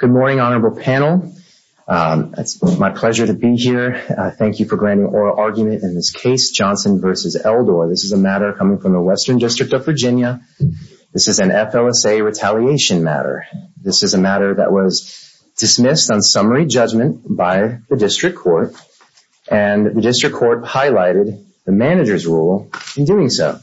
Good morning, honorable panel. It's my pleasure to be here. Thank you for granting oral argument in this case, Johnson v. Eldor. This is a matter coming from the Western District of Virginia. This is an FLSA retaliation matter. This is a matter that was dismissed on summary judgment by the district court, and the district court highlighted the manager's rule in doing so.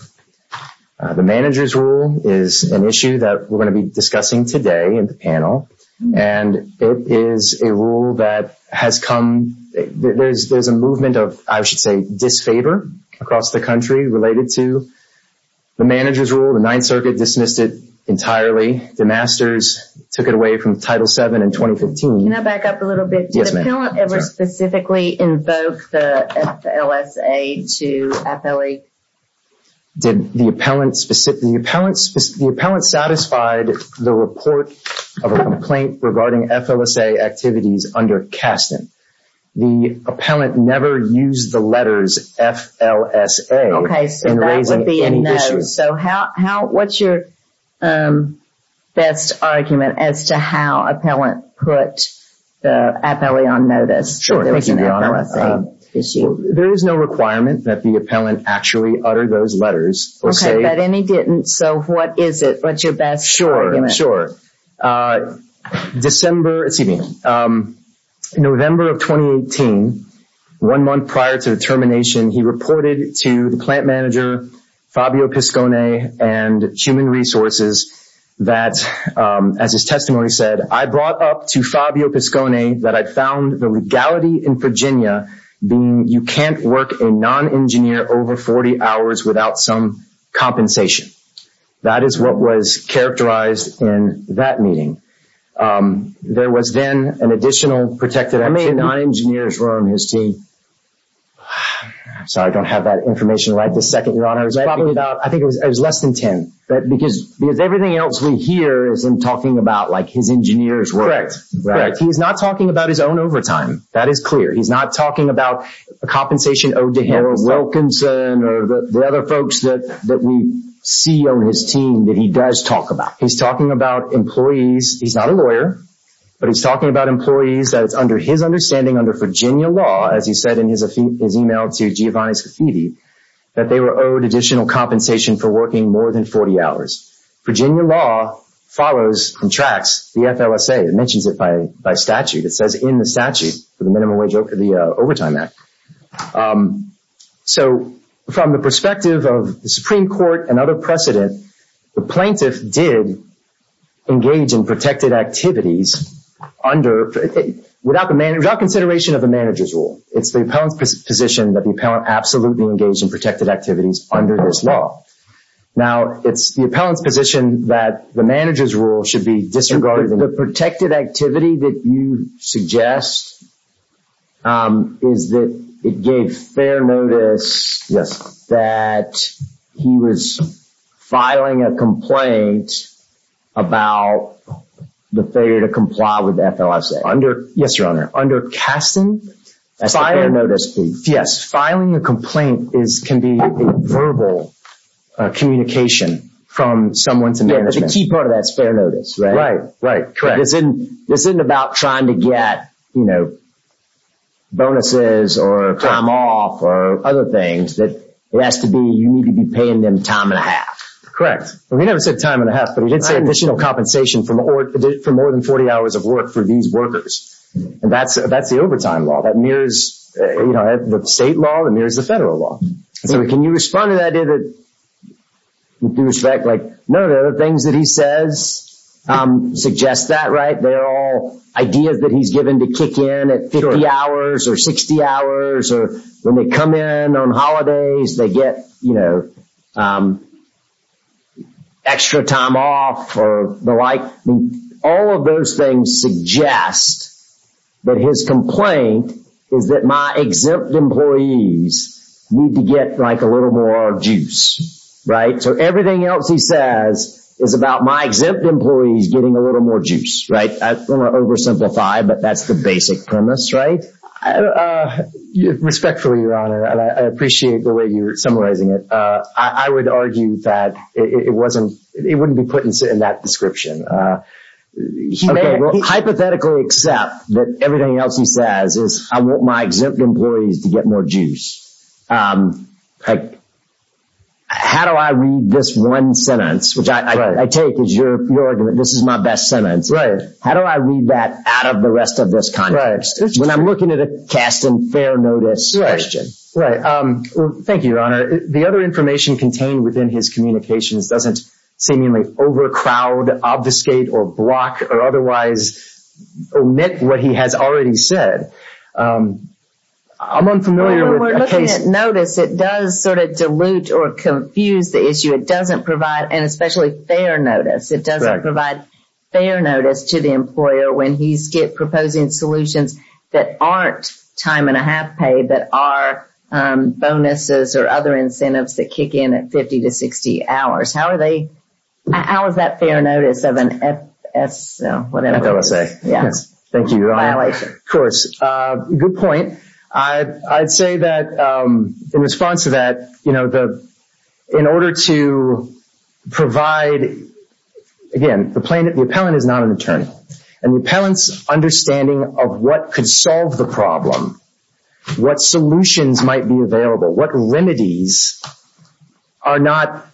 The manager's rule is an issue that we're going to be discussing today in the panel, and it is a rule that has come – there's a movement of, I should say, disfavor across the country related to the manager's rule. The Ninth Circuit dismissed it entirely. The masters took it away from Title VII in 2015. Can I back up a little bit? Yes, ma'am. Did the appellant ever specifically invoke the FLSA to appellee? Did the appellant – the appellant satisfied the report of a complaint regarding FLSA activities under Kasten. The appellant never used the letters FLSA in raising any issues. So how – what's your best argument as to how appellant put the appellee on notice that there was an FLSA issue? There is no requirement that the appellant actually utter those letters. Okay, but if he didn't, so what is it? What's your best argument? Sure. December – excuse me. November of 2018, one month prior to the termination, he reported to the plant manager, Fabio Piscone, and Human Resources that, as his testimony said, I brought up to Fabio Piscone that I found the legality in Virginia being you can't work a non-engineer over 40 hours without some compensation. That is what was characterized in that meeting. There was then an additional protected activity. How many non-engineers were on his team? I'm sorry, I don't have that information right this second, Your Honor. I think it was less than 10. Because everything else we hear is him talking about, like, his engineer's work. He's not talking about his own overtime. That is clear. He's not talking about a compensation owed to him. Or Wilkinson or the other folks that we see on his team that he does talk about. He's talking about employees – he's not a lawyer, but he's talking about employees that it's under his understanding, under Virginia law, as he said in his email to Giovanni Scaffidi, that they were owed additional compensation for working more than 40 hours. Virginia law follows and tracks the FLSA. It mentions it by statute. It says in the statute for the Minimum Wage Overtime Act. So from the perspective of the Supreme Court and other precedent, the plaintiff did engage in protected activities without consideration of the manager's role. It's the appellant's position that the appellant absolutely engaged in protected activities under this law. Now, it's the appellant's position that the manager's role should be disregarded. The protected activity that you suggest is that it gave fair notice that he was filing a complaint about the failure to comply with the FLSA. Yes, Your Honor. Under casting, filing a complaint can be a verbal communication from someone to management. The key part of that is fair notice, right? Right. Correct. This isn't about trying to get bonuses or time off or other things. It has to be – you need to be paying them time and a half. Correct. Well, he never said time and a half, but he did say additional compensation for more than 40 hours of work for these workers. And that's the overtime law. That mirrors the state law. It mirrors the federal law. So can you respond to that? Do you respect – like, no, the things that he says suggest that, right? They're all ideas that he's given to kick in at 50 hours or 60 hours or when they come in on holidays, they get, you know, extra time off or the like. All of those things suggest that his complaint is that my exempt employees need to get, like, a little more juice, right? So everything else he says is about my exempt employees getting a little more juice, right? I don't want to oversimplify, but that's the basic premise, right? Respectfully, Your Honor, I appreciate the way you're summarizing it. I would argue that it wasn't – it wouldn't be put in that description. Okay, well, hypothetically accept that everything else he says is I want my exempt employees to get more juice. Like, how do I read this one sentence, which I take as your argument, this is my best sentence. Right. How do I read that out of the rest of this context? Right. When I'm looking at a cast and fair notice question. Right. Thank you, Your Honor. The other information contained within his communications doesn't seemingly overcrowd, obfuscate, or block or otherwise omit what he has already said. I'm unfamiliar with a case – When we're looking at notice, it does sort of dilute or confuse the issue. It doesn't provide – and especially fair notice. It doesn't provide fair notice to the employer when he's proposing solutions that aren't time and a half pay, but are bonuses or other incentives that kick in at 50 to 60 hours. How are they – how is that fair notice of an FSO, whatever it is? FSA. Yes. Thank you, Your Honor. Good point. I'd say that in response to that, you know, in order to provide – again, the plaintiff, the appellant is not an attorney. And the appellant's understanding of what could solve the problem, what solutions might be available, what remedies are not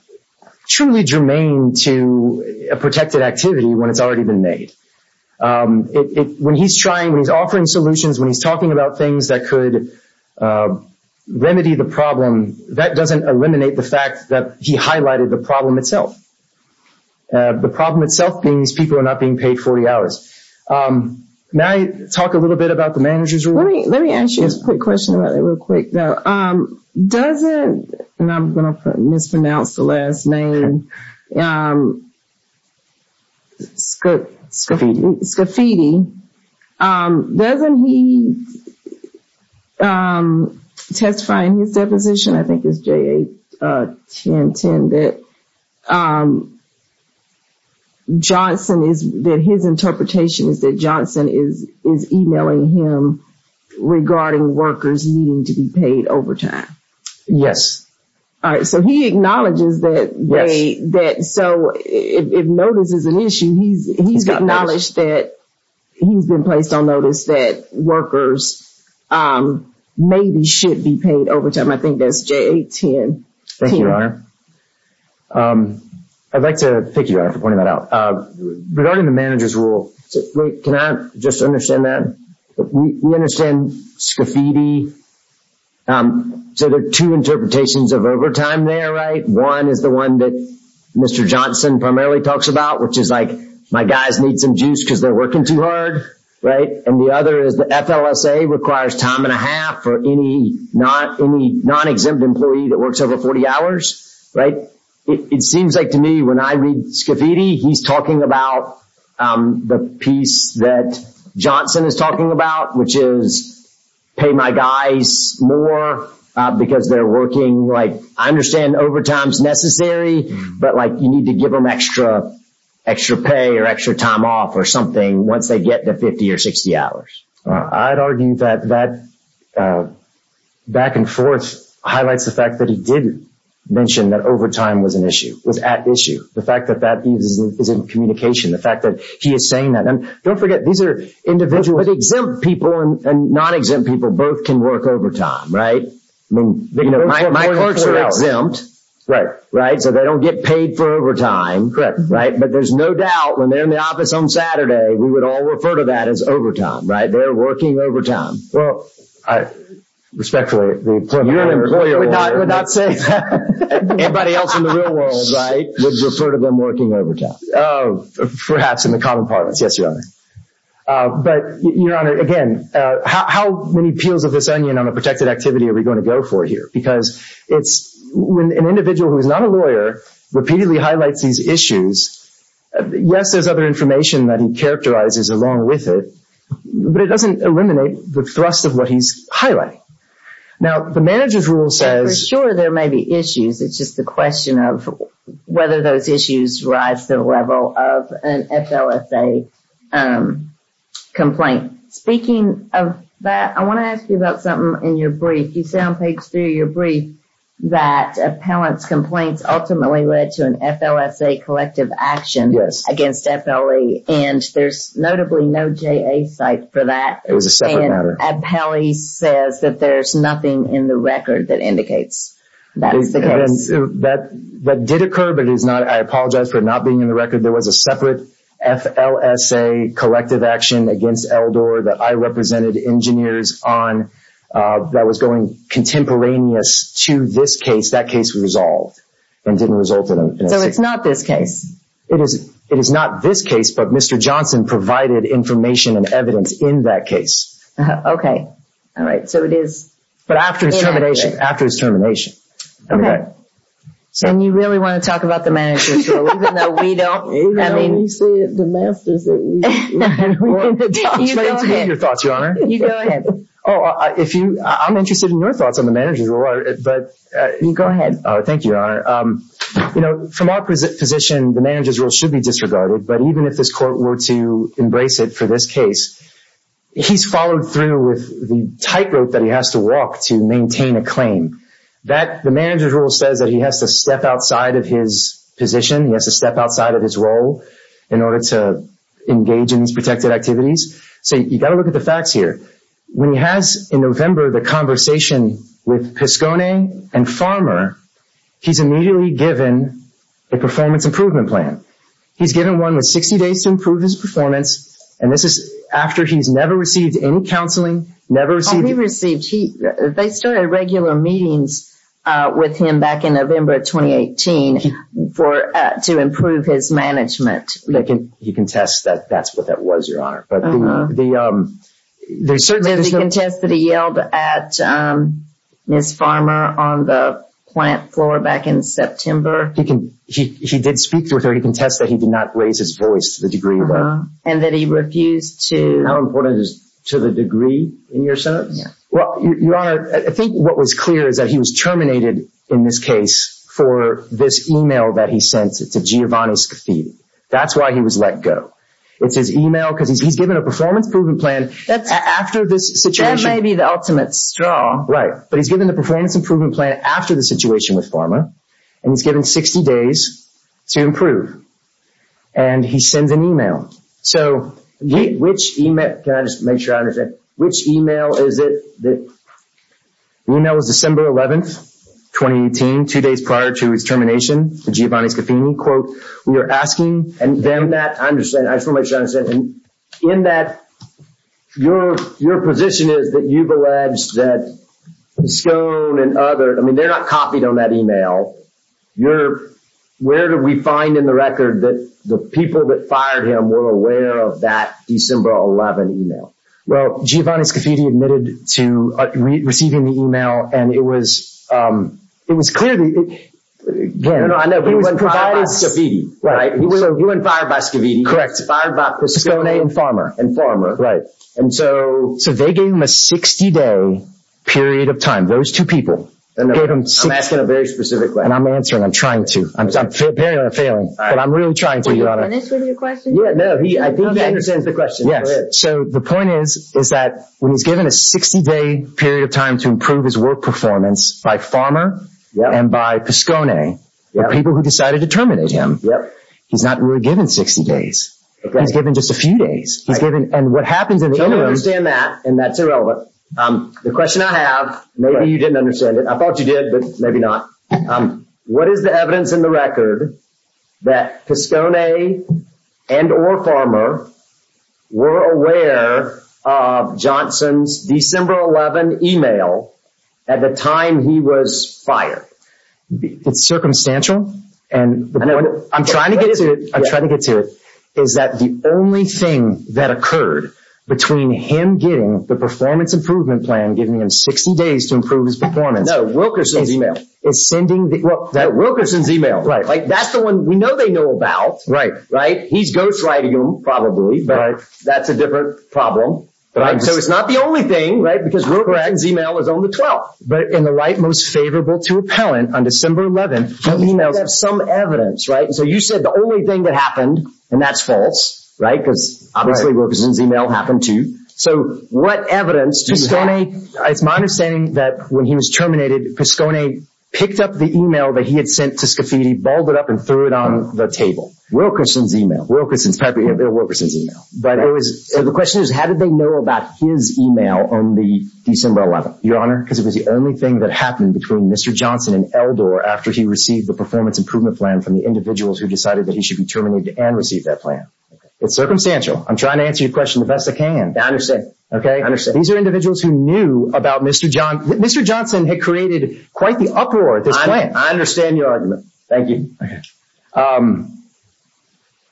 truly germane to a protected activity when it's already been made. When he's trying, when he's offering solutions, when he's talking about things that could remedy the problem, that doesn't eliminate the fact that he highlighted the problem itself. The problem itself being these people are not being paid 40 hours. May I talk a little bit about the manager's rule? Let me ask you a quick question about that real quick, though. Doesn't – and I'm going to mispronounce the last name – Scafidi, doesn't he testify in his deposition, I think it's JA-1010, that Johnson is – that his interpretation is that Johnson is emailing him regarding workers needing to be paid overtime? Yes. All right. So he acknowledges that they – so if notice is an issue, he's acknowledged that he's been placed on notice that workers maybe should be paid overtime. I think that's JA-1010. Thank you, Your Honor. I'd like to thank you, Your Honor, for pointing that out. Regarding the manager's rule, can I just understand that? We understand Scafidi. So there are two interpretations of overtime there, right? One is the one that Mr. Johnson primarily talks about, which is like my guys need some juice because they're working too hard, right? And the other is the FLSA requires time and a half for any non-exempt employee that works over 40 hours, right? It seems like to me when I read Scafidi, he's talking about the piece that Johnson is talking about, which is pay my guys more because they're working. I understand overtime is necessary, but you need to give them extra pay or extra time off or something once they get to 50 or 60 hours. I'd argue that that back and forth highlights the fact that he did mention that overtime was an issue, was at issue. The fact that that is in communication, the fact that he is saying that. And don't forget, these are individuals. But exempt people and non-exempt people both can work overtime, right? My clerks are exempt, right? So they don't get paid for overtime. Right. But there's no doubt when they're in the office on Saturday, we would all refer to that as overtime, right? They're working overtime. Well, respectfully, the employer would not say that. Anybody else in the real world, right, would refer to them working overtime. Oh, perhaps in the common parlance. Yes, Your Honor. But, Your Honor, again, how many peels of this onion on a protected activity are we going to go for here? Because it's an individual who is not a lawyer repeatedly highlights these issues. Yes, there's other information that he characterizes along with it, but it doesn't eliminate the thrust of what he's highlighting. Now, the manager's rule says. For sure, there may be issues. It's just the question of whether those issues rise to the level of an FLSA complaint. Speaking of that, I want to ask you about something in your brief. You say on page three of your brief that appellant's complaints ultimately led to an FLSA collective action against FLE. And there's notably no JA cite for that. It was a separate matter. And appellee says that there's nothing in the record that indicates that's the case. That did occur, but I apologize for it not being in the record. There was a separate FLSA collective action against Eldor that I represented engineers on that was going contemporaneous to this case. That case was resolved and didn't result in an FLSA. So it's not this case? It is not this case, but Mr. Johnson provided information and evidence in that case. Okay. All right. So it is. But after his termination. Okay. And you really want to talk about the manager's role, even though we don't? You know, you see the masters that we are. You go ahead. I'm trying to read your thoughts, Your Honor. You go ahead. Oh, I'm interested in your thoughts on the manager's role. You go ahead. Thank you, Your Honor. You know, from our position, the manager's role should be disregarded. But even if this court were to embrace it for this case, he's followed through with the tightrope that he has to walk to maintain a claim. The manager's role says that he has to step outside of his position. He has to step outside of his role in order to engage in these protected activities. So you've got to look at the facts here. When he has in November the conversation with Piscone and Farmer, he's immediately given a performance improvement plan. He's given one with 60 days to improve his performance, and this is after he's never received any counseling, never received. When he received, they started regular meetings with him back in November of 2018 to improve his management. He contests that that's what that was, Your Honor. He contests that he yelled at Ms. Farmer on the plant floor back in September. He did speak with her. He contests that he did not raise his voice to the degree where. And that he refused to. And how important is to the degree in your sentence? Well, Your Honor, I think what was clear is that he was terminated in this case for this e-mail that he sent to Giovanni's Cathedral. That's why he was let go. It's his e-mail because he's given a performance improvement plan after this situation. That may be the ultimate straw. Right, but he's given the performance improvement plan after the situation with Farmer, and he's given 60 days to improve. And he sends an e-mail. So, which e-mail? Can I just make sure I understand? Which e-mail is it? The e-mail was December 11th, 2018, two days prior to his termination for Giovanni Scaffini. Quote, we are asking. And then that, I understand. I just want to make sure I understand. In that, your position is that you've alleged that Scone and others, I mean, they're not copied on that e-mail. Where did we find in the record that the people that fired him were aware of that December 11th e-mail? Well, Giovanni Scaffini admitted to receiving the e-mail, and it was clear. I know, he was fired by Scaffini, right? He was fired by Scaffini. Correct. Fired by Scone and Farmer. And Farmer, right. So, they gave him a 60-day period of time, those two people. I'm asking a very specific question. And I'm answering. I'm trying to. Apparently, I'm failing. But I'm really trying to, Your Honor. Did he finish with your question? No, I think he understands the question. Yes. So, the point is, is that when he's given a 60-day period of time to improve his work performance by Farmer and by Pascone, the people who decided to terminate him, he's not really given 60 days. He's given just a few days. And what happens in the interim… I understand that, and that's irrelevant. The question I have, maybe you didn't understand it. I thought you did, but maybe not. What is the evidence in the record that Pascone and or Farmer were aware of Johnson's December 11 email at the time he was fired? It's circumstantial. I'm trying to get to it. I'm trying to get to it. Is that the only thing that occurred between him getting the performance improvement plan, giving him 60 days to improve his performance… No, Wilkerson's email. …is sending… Wilkerson's email. Right. Like, that's the one we know they know about. Right. Right? He's ghostwriting them, probably, but that's a different problem. So, it's not the only thing, right? Because Wilkerson's email is on the 12th. But in the right most favorable to appellant on December 11, the email has some evidence, right? So, you said the only thing that happened, and that's false, right? Right. Because, obviously, Wilkerson's email happened, too. So, what evidence do you have? Pascone… It's my understanding that when he was terminated, Pascone picked up the email that he had sent to Scafidi, balled it up, and threw it on the table. Wilkerson's email. Wilkerson's. Probably, yeah, Wilkerson's email. But it was… So, the question is, how did they know about his email on the December 11? Your Honor, because it was the only thing that happened between Mr. Johnson and Eldor after he received the performance improvement plan from the individuals who decided that he should be terminated and receive that plan. It's circumstantial. I'm trying to answer your question the best I can. I understand. Okay? I understand. These are individuals who knew about Mr. Johnson. Mr. Johnson had created quite the uproar at this point. I understand your argument. Thank you. Okay.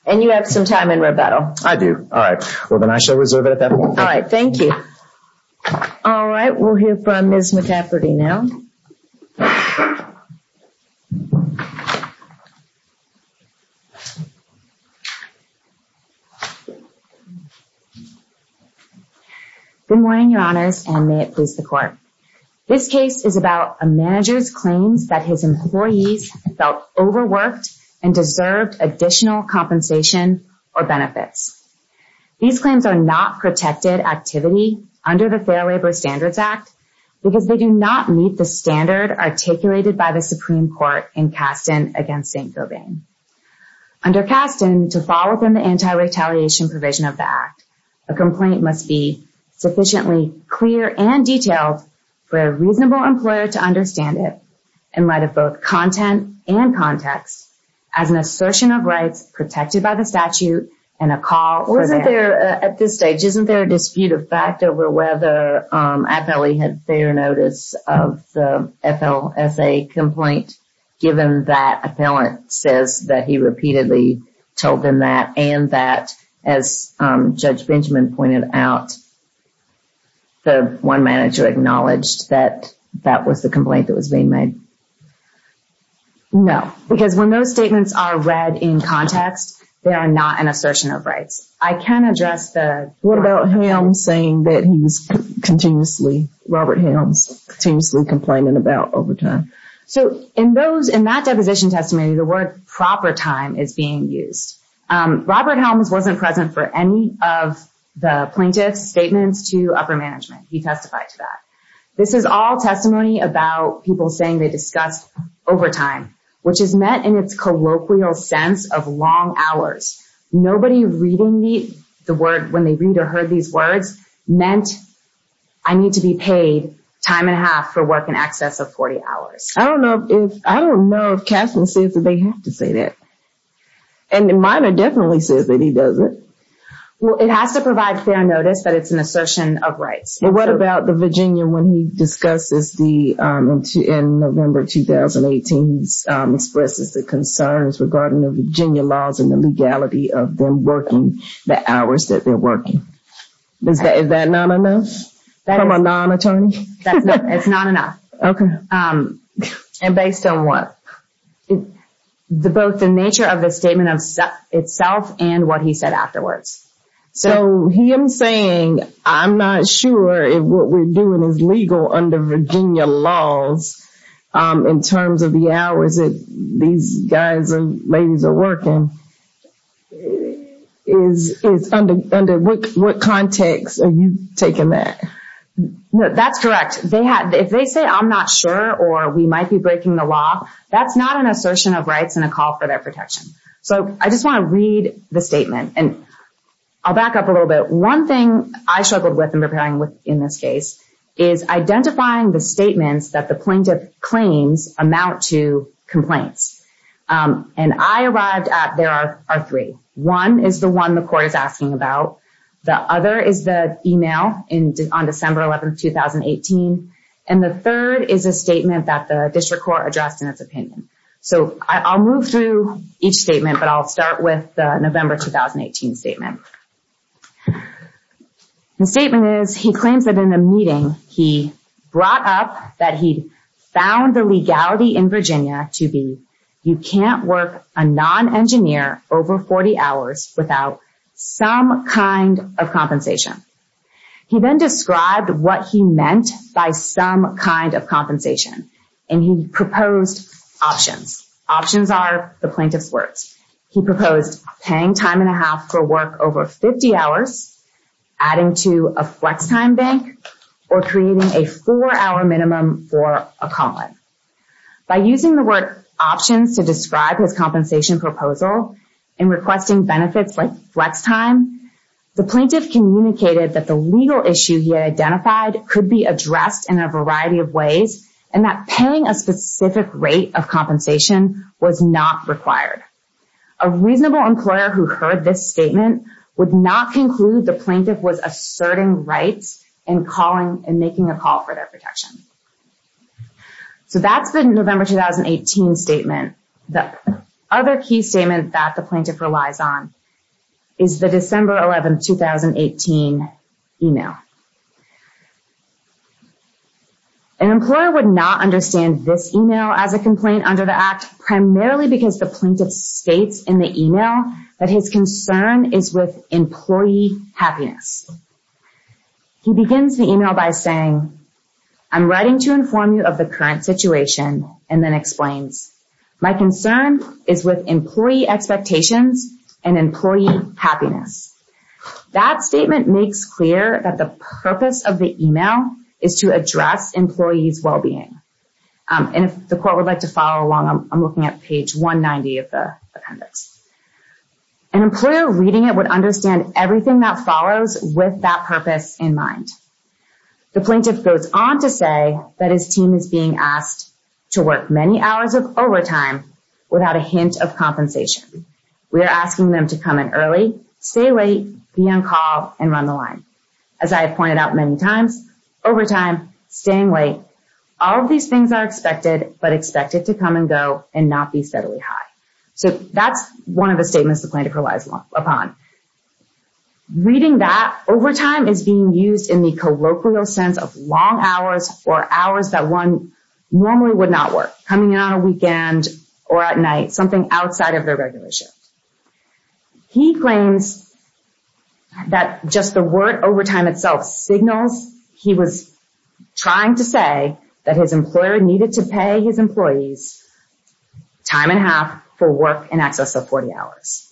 And you have some time in rebuttal. I do. All right. Well, then I shall reserve it at that point. All right. We have a question from Ms. McEfferty now. Good morning, Your Honors, and may it please the Court. This case is about a manager's claims that his employees felt overworked and deserved additional compensation or benefits. These claims are not protected activity under the Fair Labor Standards Act because they do not meet the standard articulated by the Supreme Court in Kasten against St. Gobain. Under Kasten, to fall within the anti-retaliation provision of the Act, a complaint must be sufficiently clear and detailed for a reasonable employer to understand it, in light of both content and context, as an assertion of rights protected by the statute and a call for… At this stage, isn't there a dispute of fact over whether an appellee had fair notice of the FLSA complaint, given that an appellant says that he repeatedly told them that, and that, as Judge Benjamin pointed out, the one manager acknowledged that that was the complaint that was being made? No, because when those statements are read in context, they are not an assertion of rights. I can address the… What about Helms saying that he was continuously, Robert Helms, continuously complaining about overtime? So, in that deposition testimony, the word proper time is being used. Robert Helms wasn't present for any of the plaintiff's statements to upper management. He testified to that. This is all testimony about people saying they discussed overtime, which is met in its colloquial sense of long hours. Nobody reading the word… When they read or heard these words, meant I need to be paid time and a half for work in excess of 40 hours. I don't know if… I don't know if Kasten says that they have to say that. And Miner definitely says that he doesn't. Well, it has to provide fair notice, but it's an assertion of rights. Well, what about the Virginia when he discusses the… In November 2018, he expresses the concerns regarding the Virginia laws and the legality of them working the hours that they're working. Is that not enough from a non-attorney? That's not… It's not enough. Okay. And based on what? Both the nature of the statement itself and what he said afterwards. So, he is saying, I'm not sure if what we're doing is legal under Virginia laws in terms of the hours that these guys and ladies are working. Under what context are you taking that? That's correct. If they say, I'm not sure or we might be breaking the law, that's not an assertion of rights and a call for their protection. So, I just want to read the statement. And I'll back up a little bit. One thing I struggled with in preparing in this case is identifying the statements that the plaintiff claims amount to complaints. And I arrived at… There are three. One is the one the court is asking about. The other is the email on December 11, 2018. And the third is a statement that the district court addressed in its opinion. So, I'll move through each statement, but I'll start with the November 2018 statement. The statement is he claims that in the meeting he brought up that he found the legality in Virginia to be you can't work a non-engineer over 40 hours without some kind of compensation. He then described what he meant by some kind of compensation. And he proposed options. Options are the plaintiff's words. He proposed paying time and a half for work over 50 hours, adding to a flex time bank, or creating a four-hour minimum for a column. By using the word options to describe his compensation proposal and requesting benefits like flex time, the plaintiff communicated that the legal issue he identified could be addressed in a variety of ways and that paying a specific rate of compensation was not required. A reasonable employer who heard this statement would not conclude the plaintiff was asserting rights and calling and making a call for their protection. So, that's the November 2018 statement. The other key statement that the plaintiff relies on is the December 11, 2018 email. An employer would not understand this email as a complaint under the Act primarily because the plaintiff states in the email that his concern is with employee happiness. He begins the email by saying, I'm writing to inform you of the current situation and then explains, my concern is with employee expectations and employee happiness. That statement makes clear that the purpose of the email is to address employee's well-being. And if the court would like to follow along, I'm looking at page 190 of the appendix. An employer reading it would understand everything that follows with that purpose in mind. The plaintiff goes on to say that his team is being asked to work many hours of overtime without a hint of compensation. We are asking them to come in early, stay late, be on call, and run the line. As I have pointed out many times, overtime, staying late, all of these things are expected, but expected to come and go and not be steadily high. So, that's one of the statements the plaintiff relies upon. Reading that, overtime is being used in the colloquial sense of long hours or hours that one normally would not work. Coming in on a weekend or at night, something outside of their regular shift. He claims that just the word overtime itself signals he was trying to say that his employer needed to pay his employees time and a half for work in excess of 40 hours.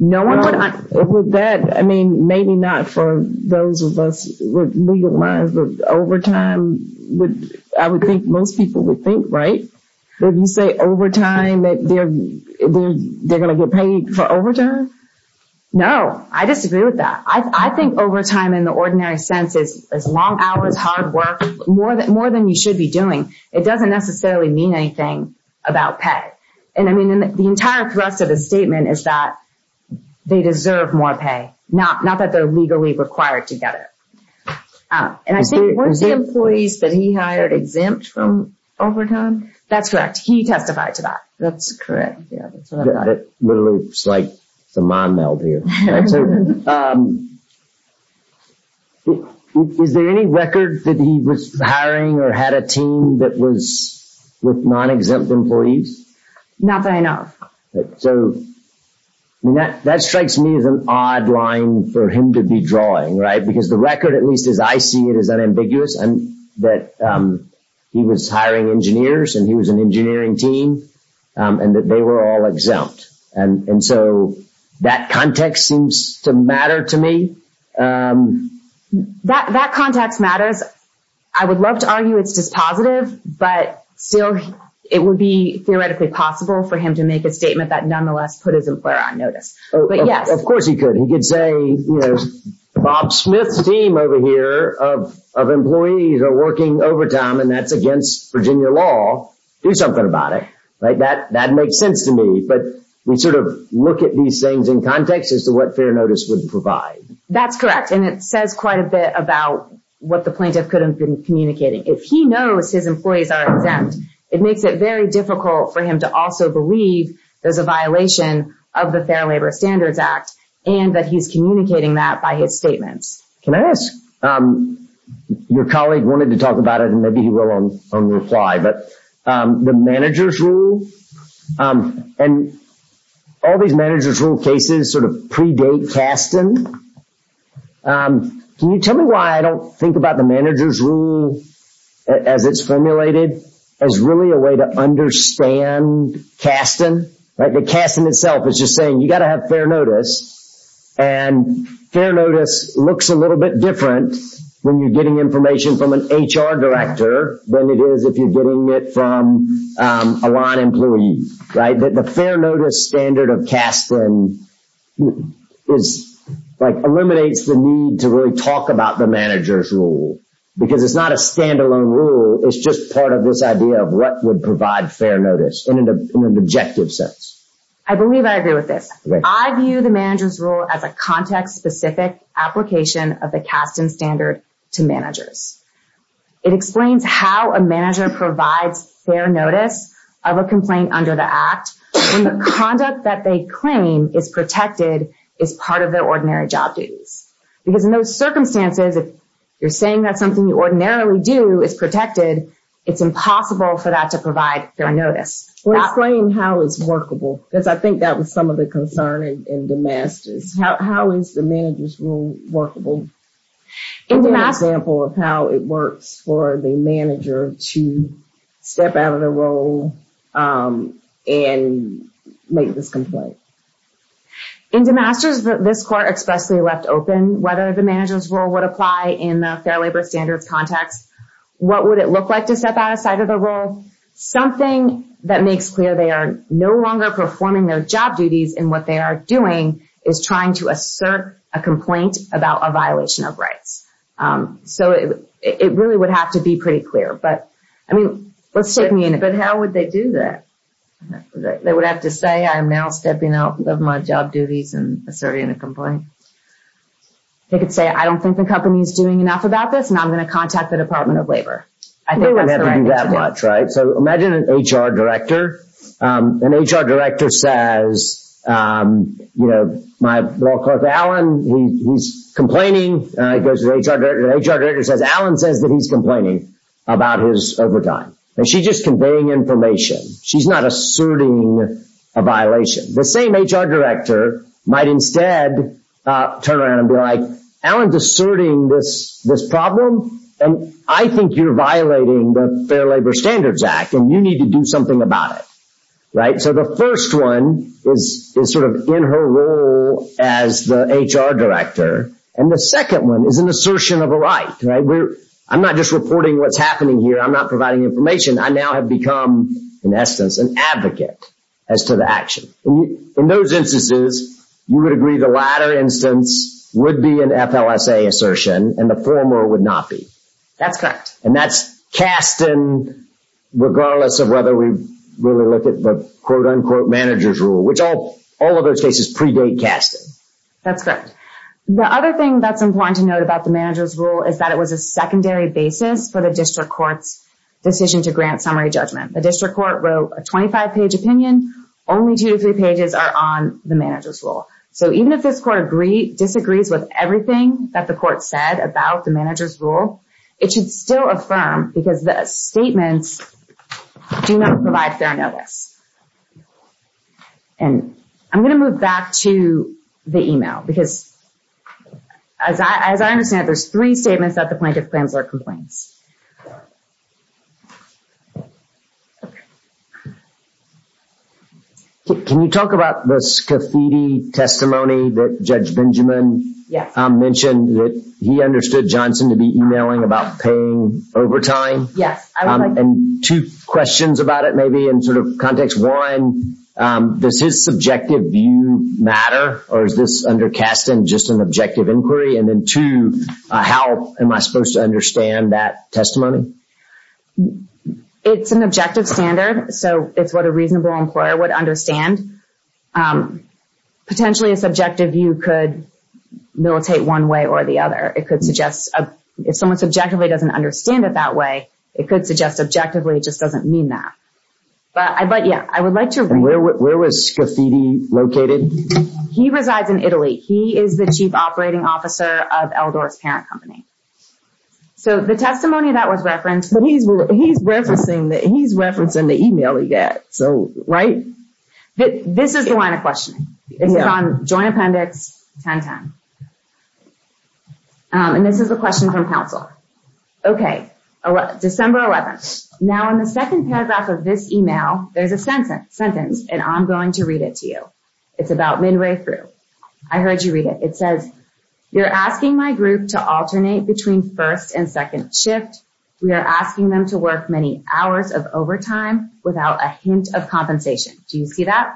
Would that, I mean, maybe not for those of us with legal minds, but overtime, I would think most people would think, right? If you say overtime, they're going to get paid for overtime? No, I disagree with that. I think overtime in the ordinary sense is long hours, hard work, more than you should be doing. It doesn't necessarily mean anything about pay. And, I mean, the entire thrust of the statement is that they deserve more pay, not that they're legally required to get it. And I think, weren't the employees that he hired exempt from overtime? That's correct. He testified to that. That's correct. It's like the mind meld here. Is there any record that he was hiring or had a team that was with non-exempt employees? Not that I know of. So that strikes me as an odd line for him to be drawing, right? Because the record, at least as I see it, is unambiguous and that he was hiring engineers and he was an engineering team and that they were all exempt. And so that context seems to matter to me. That context matters. I would love to argue it's dispositive. But still, it would be theoretically possible for him to make a statement that nonetheless put his employer on notice. Of course he could. He could say, you know, Bob Smith's team over here of employees are working overtime and that's against Virginia law. Do something about it. That makes sense to me. But we sort of look at these things in context as to what fair notice would provide. That's correct. And it says quite a bit about what the plaintiff could have been communicating. If he knows his employees are exempt, it makes it very difficult for him to also believe there's a violation of the Fair Labor Standards Act and that he's communicating that by his statements. Can I ask? Your colleague wanted to talk about it and maybe he will on reply, but the manager's rule and all these manager's rule cases sort of predate Kasten. Can you tell me why I don't think about the manager's rule as it's formulated as really a way to understand Kasten? Kasten itself is just saying you got to have fair notice and fair notice looks a little bit different when you're getting information from an HR director than it is if you're getting it from a line employee. The fair notice standard of Kasten eliminates the need to really talk about the manager's rule because it's not a standalone rule. It's just part of this idea of what would provide fair notice in an objective sense. I believe I agree with this. I view the manager's rule as a context-specific application of the Kasten standard to managers. It explains how a manager provides fair notice of a complaint under the act when the conduct that they claim is protected is part of their ordinary job duties. Because in those circumstances, if you're saying that something you ordinarily do is protected, it's impossible for that to provide fair notice. Explain how it's workable because I think that was some of the concern in Damascus. How is the manager's rule workable? Give me an example of how it works for the manager to step out of the role and make this complaint. In Damascus, this court expressly left open whether the manager's rule would apply in the fair labor standards context. What would it look like to step outside of the role? Something that makes clear they are no longer performing their job duties and what they are doing is trying to assert a complaint about a violation of rights. It really would have to be pretty clear. How would they do that? They would have to say, I am now stepping out of my job duties and asserting a complaint. They could say, I don't think the company is doing enough about this and I'm going to contact the Department of Labor. They wouldn't have to do that much. Imagine an HR director. An HR director says, my law clerk, Alan, he's complaining. An HR director says, Alan says that he's complaining about his overtime. She's just conveying information. She's not asserting a violation. The same HR director might instead turn around and be like, Alan is asserting this problem and I think you're violating the Fair Labor Standards Act and you need to do something about it. So the first one is sort of in her role as the HR director. And the second one is an assertion of a right. I'm not just reporting what's happening here. I'm not providing information. I now have become, in essence, an advocate as to the action. In those instances, you would agree the latter instance would be an FLSA assertion and the former would not be. That's correct. And that's cast in regardless of whether we really look at the quote unquote manager's rule, which all of those cases predate casting. That's correct. The other thing that's important to note about the manager's rule is that it was a secondary basis for the district court's decision to grant summary judgment. The district court wrote a 25-page opinion. Only two to three pages are on the manager's rule. So even if this court disagrees with everything that the court said about the manager's rule, it should still affirm because the statements do not provide fair notice. And I'm going to move back to the email because, as I understand it, there's three statements that the plaintiff plans or complains. Can you talk about this graffiti testimony that Judge Benjamin mentioned that he understood Johnson to be emailing about paying overtime? Yes. And two questions about it maybe in sort of context. One, does his subjective view matter or is this under casting just an objective inquiry? And then two, how am I supposed to understand that testimony? It's an objective standard, so it's what a reasonable employer would understand. Potentially, a subjective view could militate one way or the other. If someone subjectively doesn't understand it that way, it could suggest objectively it just doesn't mean that. But, yeah, I would like to— And where was Graffiti located? He resides in Italy. He is the chief operating officer of Eldor's Parent Company. So the testimony that was referenced— But he's referencing the email he got, right? This is the line of questioning. It's on Joint Appendix 1010. And this is a question from counsel. Okay, December 11th. Now, in the second paragraph of this email, there's a sentence, and I'm going to read it to you. It's about midway through. I heard you read it. It says, Do you see that?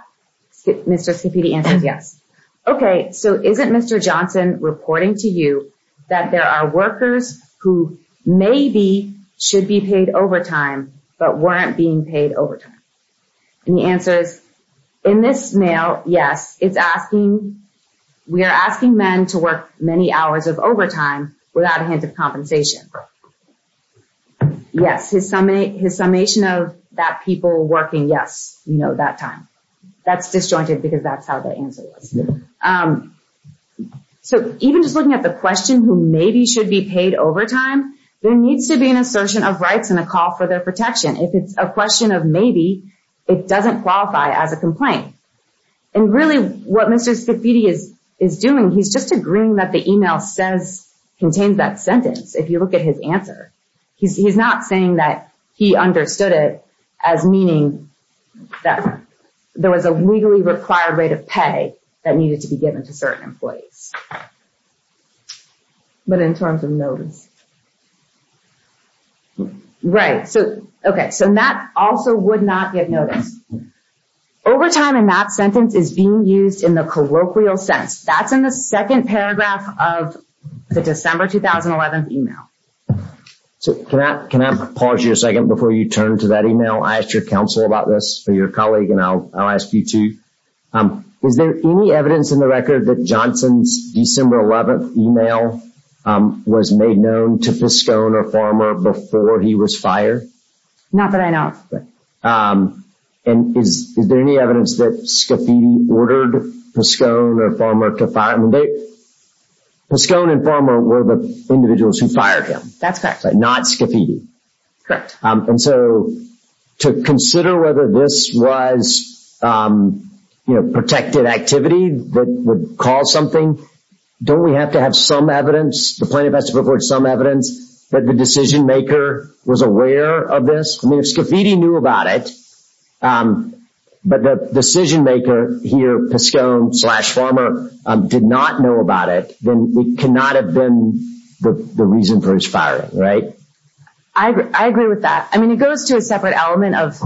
Mr. Scappitti answers yes. Okay, so isn't Mr. Johnson reporting to you that there are workers who maybe should be paid overtime but weren't being paid overtime? And the answer is, in this mail, yes. It's asking—we are asking men to work many hours of overtime without a hint of compensation. Yes, his summation of that people working, yes. You know, that time. That's disjointed because that's how the answer was. So even just looking at the question, who maybe should be paid overtime, there needs to be an assertion of rights and a call for their protection. If it's a question of maybe, it doesn't qualify as a complaint. And really, what Mr. Scappitti is doing, he's just agreeing that the email contains that sentence, if you look at his answer. He's not saying that he understood it as meaning that there was a legally required rate of pay that needed to be given to certain employees. But in terms of notice. Right. Okay, so Matt also would not get notice. Overtime in Matt's sentence is being used in the colloquial sense. That's in the second paragraph of the December 2011 email. Can I pause you a second before you turn to that email? I asked your counsel about this, or your colleague, and I'll ask you too. Is there any evidence in the record that Johnson's December 11 email was made known to Piscone or Farmer before he was fired? Not that I know of. And is there any evidence that Scappitti ordered Piscone or Farmer to fire him? Piscone and Farmer were the individuals who fired him. That's correct. Not Scappitti. Correct. And so to consider whether this was, you know, protected activity that would cause something, don't we have to have some evidence, the plaintiff has to report some evidence that the decision maker was aware of this? I mean, if Scappitti knew about it, but the decision maker here, Piscone slash Farmer, did not know about it, then it cannot have been the reason for his firing, right? I agree with that. I mean, it goes to a separate element of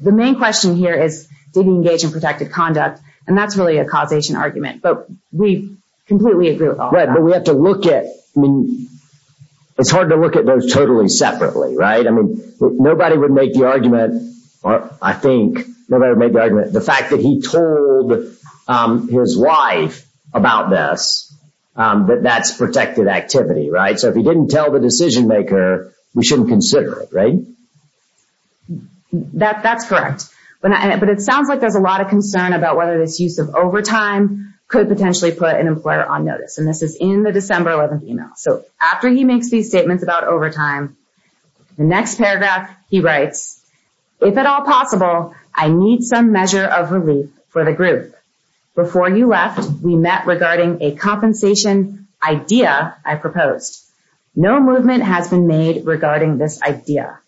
the main question here is did he engage in protected conduct, and that's really a causation argument, but we completely agree with all of that. Right, but we have to look at, I mean, it's hard to look at those totally separately, right? I mean, nobody would make the argument, or I think nobody would make the argument, the fact that he told his wife about this, that that's protected activity, right? So if he didn't tell the decision maker, we shouldn't consider it, right? That's correct. But it sounds like there's a lot of concern about whether this use of overtime could potentially put an employer on notice, and this is in the December 11th email. So after he makes these statements about overtime, the next paragraph he writes, if at all possible, I need some measure of relief for the group. Before you left, we met regarding a compensation idea I proposed. No movement has been made regarding this idea.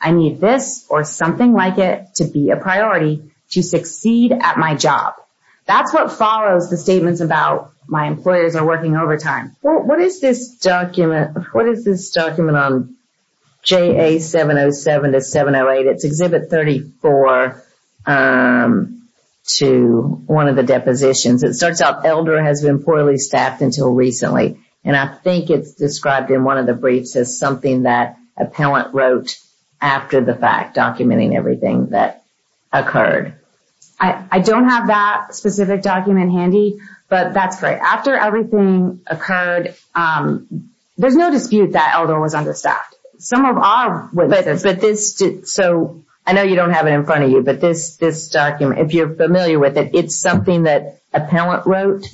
I need this or something like it to be a priority to succeed at my job. That's what follows the statements about my employers are working overtime. What is this document on JA 707 to 708? It's Exhibit 34 to one of the depositions. It starts out, Elder has been poorly staffed until recently, and I think it's described in one of the briefs as something that appellant wrote after the fact, documenting everything that occurred. I don't have that specific document handy, but that's great. After everything occurred, there's no dispute that Elder was understaffed. I know you don't have it in front of you, but this document, if you're familiar with it, it's something that appellant wrote.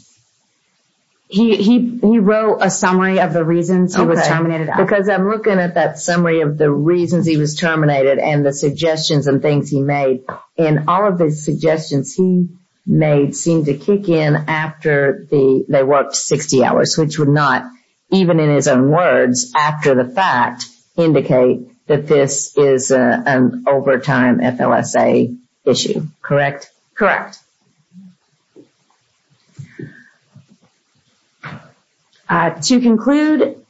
He wrote a summary of the reasons he was terminated. Because I'm looking at that summary of the reasons he was terminated and the suggestions and things he made, and all of the suggestions he made seemed to kick in after they worked 60 hours, which would not, even in his own words, after the fact, indicate that this is an overtime FLSA issue. Correct? To conclude,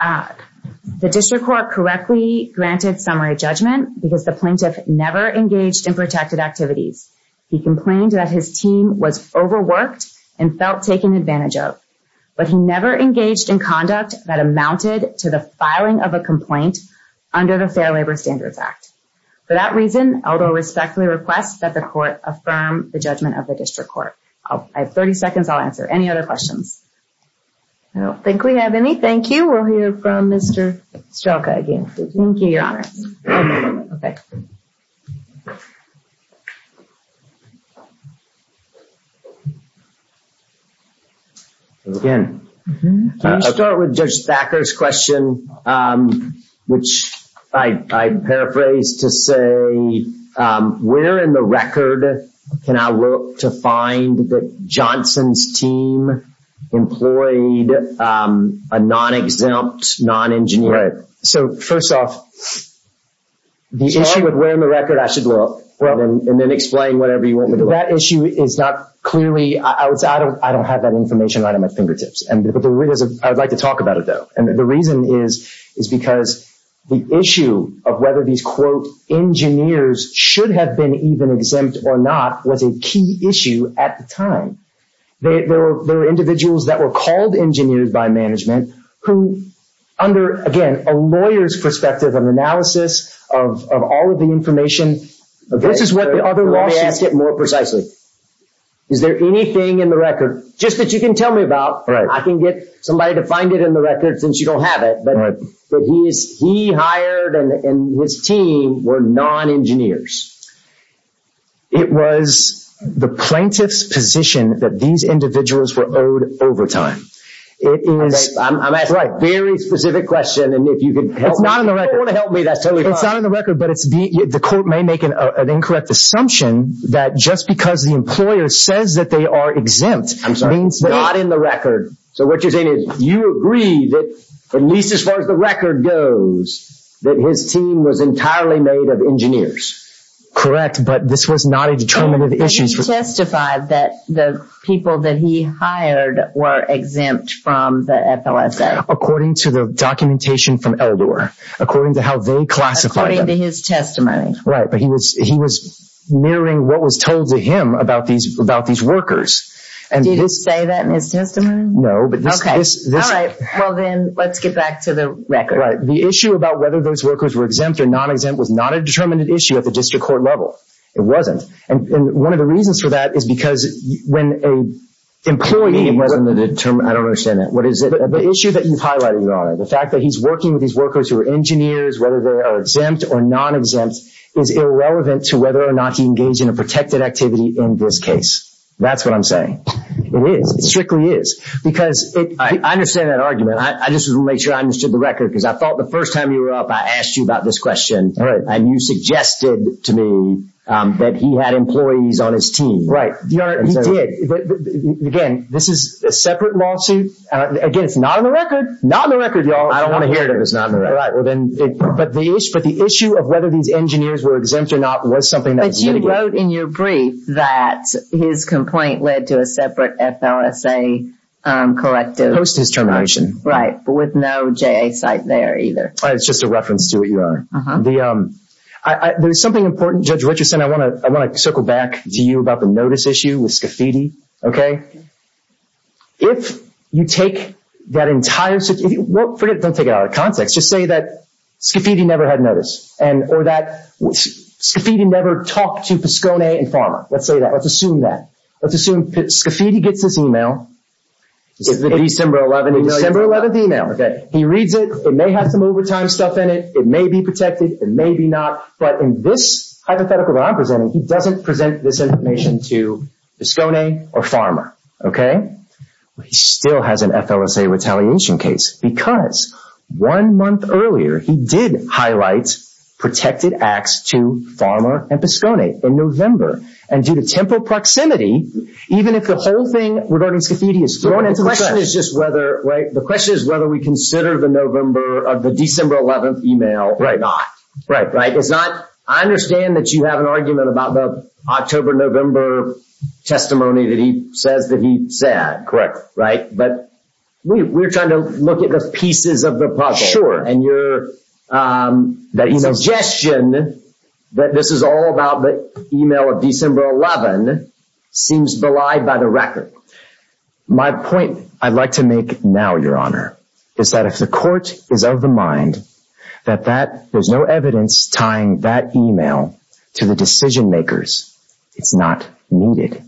the district court correctly granted summary judgment because the plaintiff never engaged in protected activities. He complained that his team was overworked and felt taken advantage of, but he never engaged in conduct that amounted to the filing of a complaint under the Fair Labor Standards Act. For that reason, Elder respectfully requests that the court affirm the judgment of the plaintiff. I have 30 seconds. I'll answer any other questions. I don't think we have any. Thank you. We'll hear from Mr. Strelka again. Thank you, Your Honor. I'll start with Judge Thacker's question, which I paraphrase to say, where in the record can I look to find that Johnson's team employed a non-exempt non-engineer? So, first off, the issue of where in the record I should look and then explain whatever you want me to look. That issue is not clearly – I don't have that information right at my fingertips. I would like to talk about it, though. And the reason is because the issue of whether these, quote, engineers should have been even exempt or not was a key issue at the time. There were individuals that were called engineers by management who, under, again, a lawyer's perspective of analysis of all of the information. This is what the other lawsuit – Let me ask it more precisely. Is there anything in the record, just that you can tell me about, I can get somebody to find it in the records since you don't have it, that he hired and his team were non-engineers? It was the plaintiff's position that these individuals were owed overtime. It is – I'm asking a very specific question, and if you could help me – It's not in the record. If you don't want to help me, that's totally fine. It's not in the record, but the court may make an incorrect assumption that just because the employer says that they are exempt – I'm sorry, it's not in the record. So what you're saying is you agree that, at least as far as the record goes, that his team was entirely made of engineers. Correct, but this was not a determinative issue. He testified that the people that he hired were exempt from the FLSA. According to the documentation from Eldor. According to how they classified them. According to his testimony. Right, but he was mirroring what was told to him about these workers. Did he say that in his testimony? No, but this – Okay, all right. Well then, let's get back to the record. Right. The issue about whether those workers were exempt or non-exempt was not a determinative issue at the district court level. It wasn't. And one of the reasons for that is because when an employee – It wasn't a determinative – I don't understand that. What is it? The issue that you've highlighted, Your Honor, the fact that he's working with these workers who are engineers, whether they are exempt or non-exempt, is irrelevant to whether or not he engaged in a protected activity in this case. That's what I'm saying. It is. It strictly is. Because it – I understand that argument. I just want to make sure I understood the record because I thought the first time you were up, I asked you about this question. All right. And you suggested to me that he had employees on his team. Right. Your Honor, he did. Again, this is a separate lawsuit. Again, it's not on the record. Not on the record, Your Honor. I don't want to hear it if it's not on the record. All right, well then – But the issue of whether these engineers were exempt or not was something that was litigated. You wrote in your brief that his complaint led to a separate FLSA corrective. Post his termination. Right. But with no JA site there either. It's just a reference to it, Your Honor. Uh-huh. There's something important, Judge Richardson, I want to circle back to you about the notice issue with Scafidi. If you take that entire – don't take it out of context. Just say that Scafidi never had notice or that Scafidi never talked to Piscone and Farmer. Let's say that. Let's assume that. Let's assume Scafidi gets this email. December 11th email. December 11th email. Okay. He reads it. It may have some overtime stuff in it. It may be protected. It may be not. But in this hypothetical that I'm presenting, he doesn't present this information to Piscone or Farmer. Okay? He still has an FLSA retaliation case because one month earlier, he did highlight protected acts to Farmer and Piscone in November. And due to temporal proximity, even if the whole thing regarding Scafidi is thrown into the trash. The question is just whether – right? The question is whether we consider the November – the December 11th email or not. Right. Right. It's not – I understand that you have an argument about the October-November testimony that he says that he said. Right? But we're trying to look at the pieces of the puzzle. And your suggestion that this is all about the email of December 11th seems belied by the record. My point I'd like to make now, Your Honor, is that if the court is of the mind that that – there's no evidence tying that email to the decision-makers, it's not needed.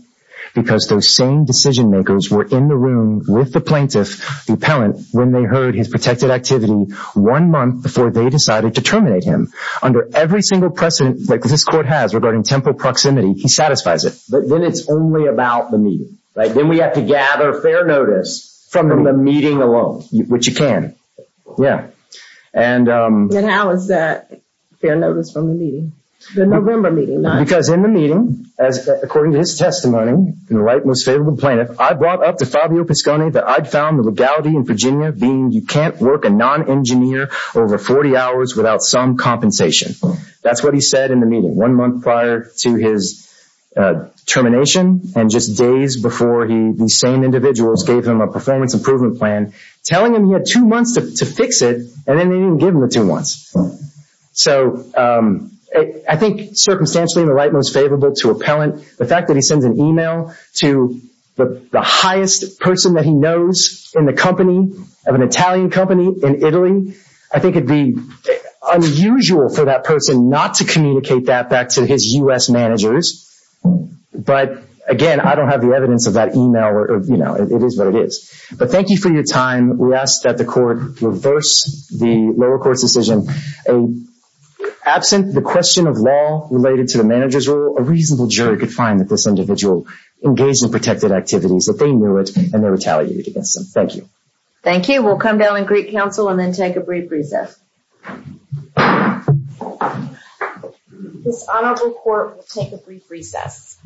Because those same decision-makers were in the room with the plaintiff, the appellant, when they heard his protected activity one month before they decided to terminate him. Under every single precedent that this court has regarding temporal proximity, he satisfies it. But then it's only about the meeting. Right? Then we have to gather fair notice from the meeting alone, which you can. And – Then how is that fair notice from the meeting? The November meeting, not – Because in the meeting, as according to his testimony, the right, most favorable plaintiff, I brought up to Fabio Piscone that I'd found the legality in Virginia being you can't work a non-engineer over 40 hours without some compensation. That's what he said in the meeting one month prior to his termination and just days before he – these same individuals gave him a performance improvement plan, telling him he had two months to fix it, and then they didn't give him the two months. So I think circumstantially, the right, most favorable to appellant, the fact that he sends an email to the highest person that he knows in the company, of an Italian company in Italy, I think it'd be unusual for that person not to communicate that back to his U.S. managers. But, again, I don't have the evidence of that email. You know, it is what it is. But thank you for your time. We ask that the court reverse the lower court's decision. Absent the question of law related to the manager's role, a reasonable jury could find that this individual engaged in protected activities, that they knew it, and they retaliated against them. Thank you. Thank you. We'll come down in Greek Council and then take a brief recess. This honorable court will take a brief recess.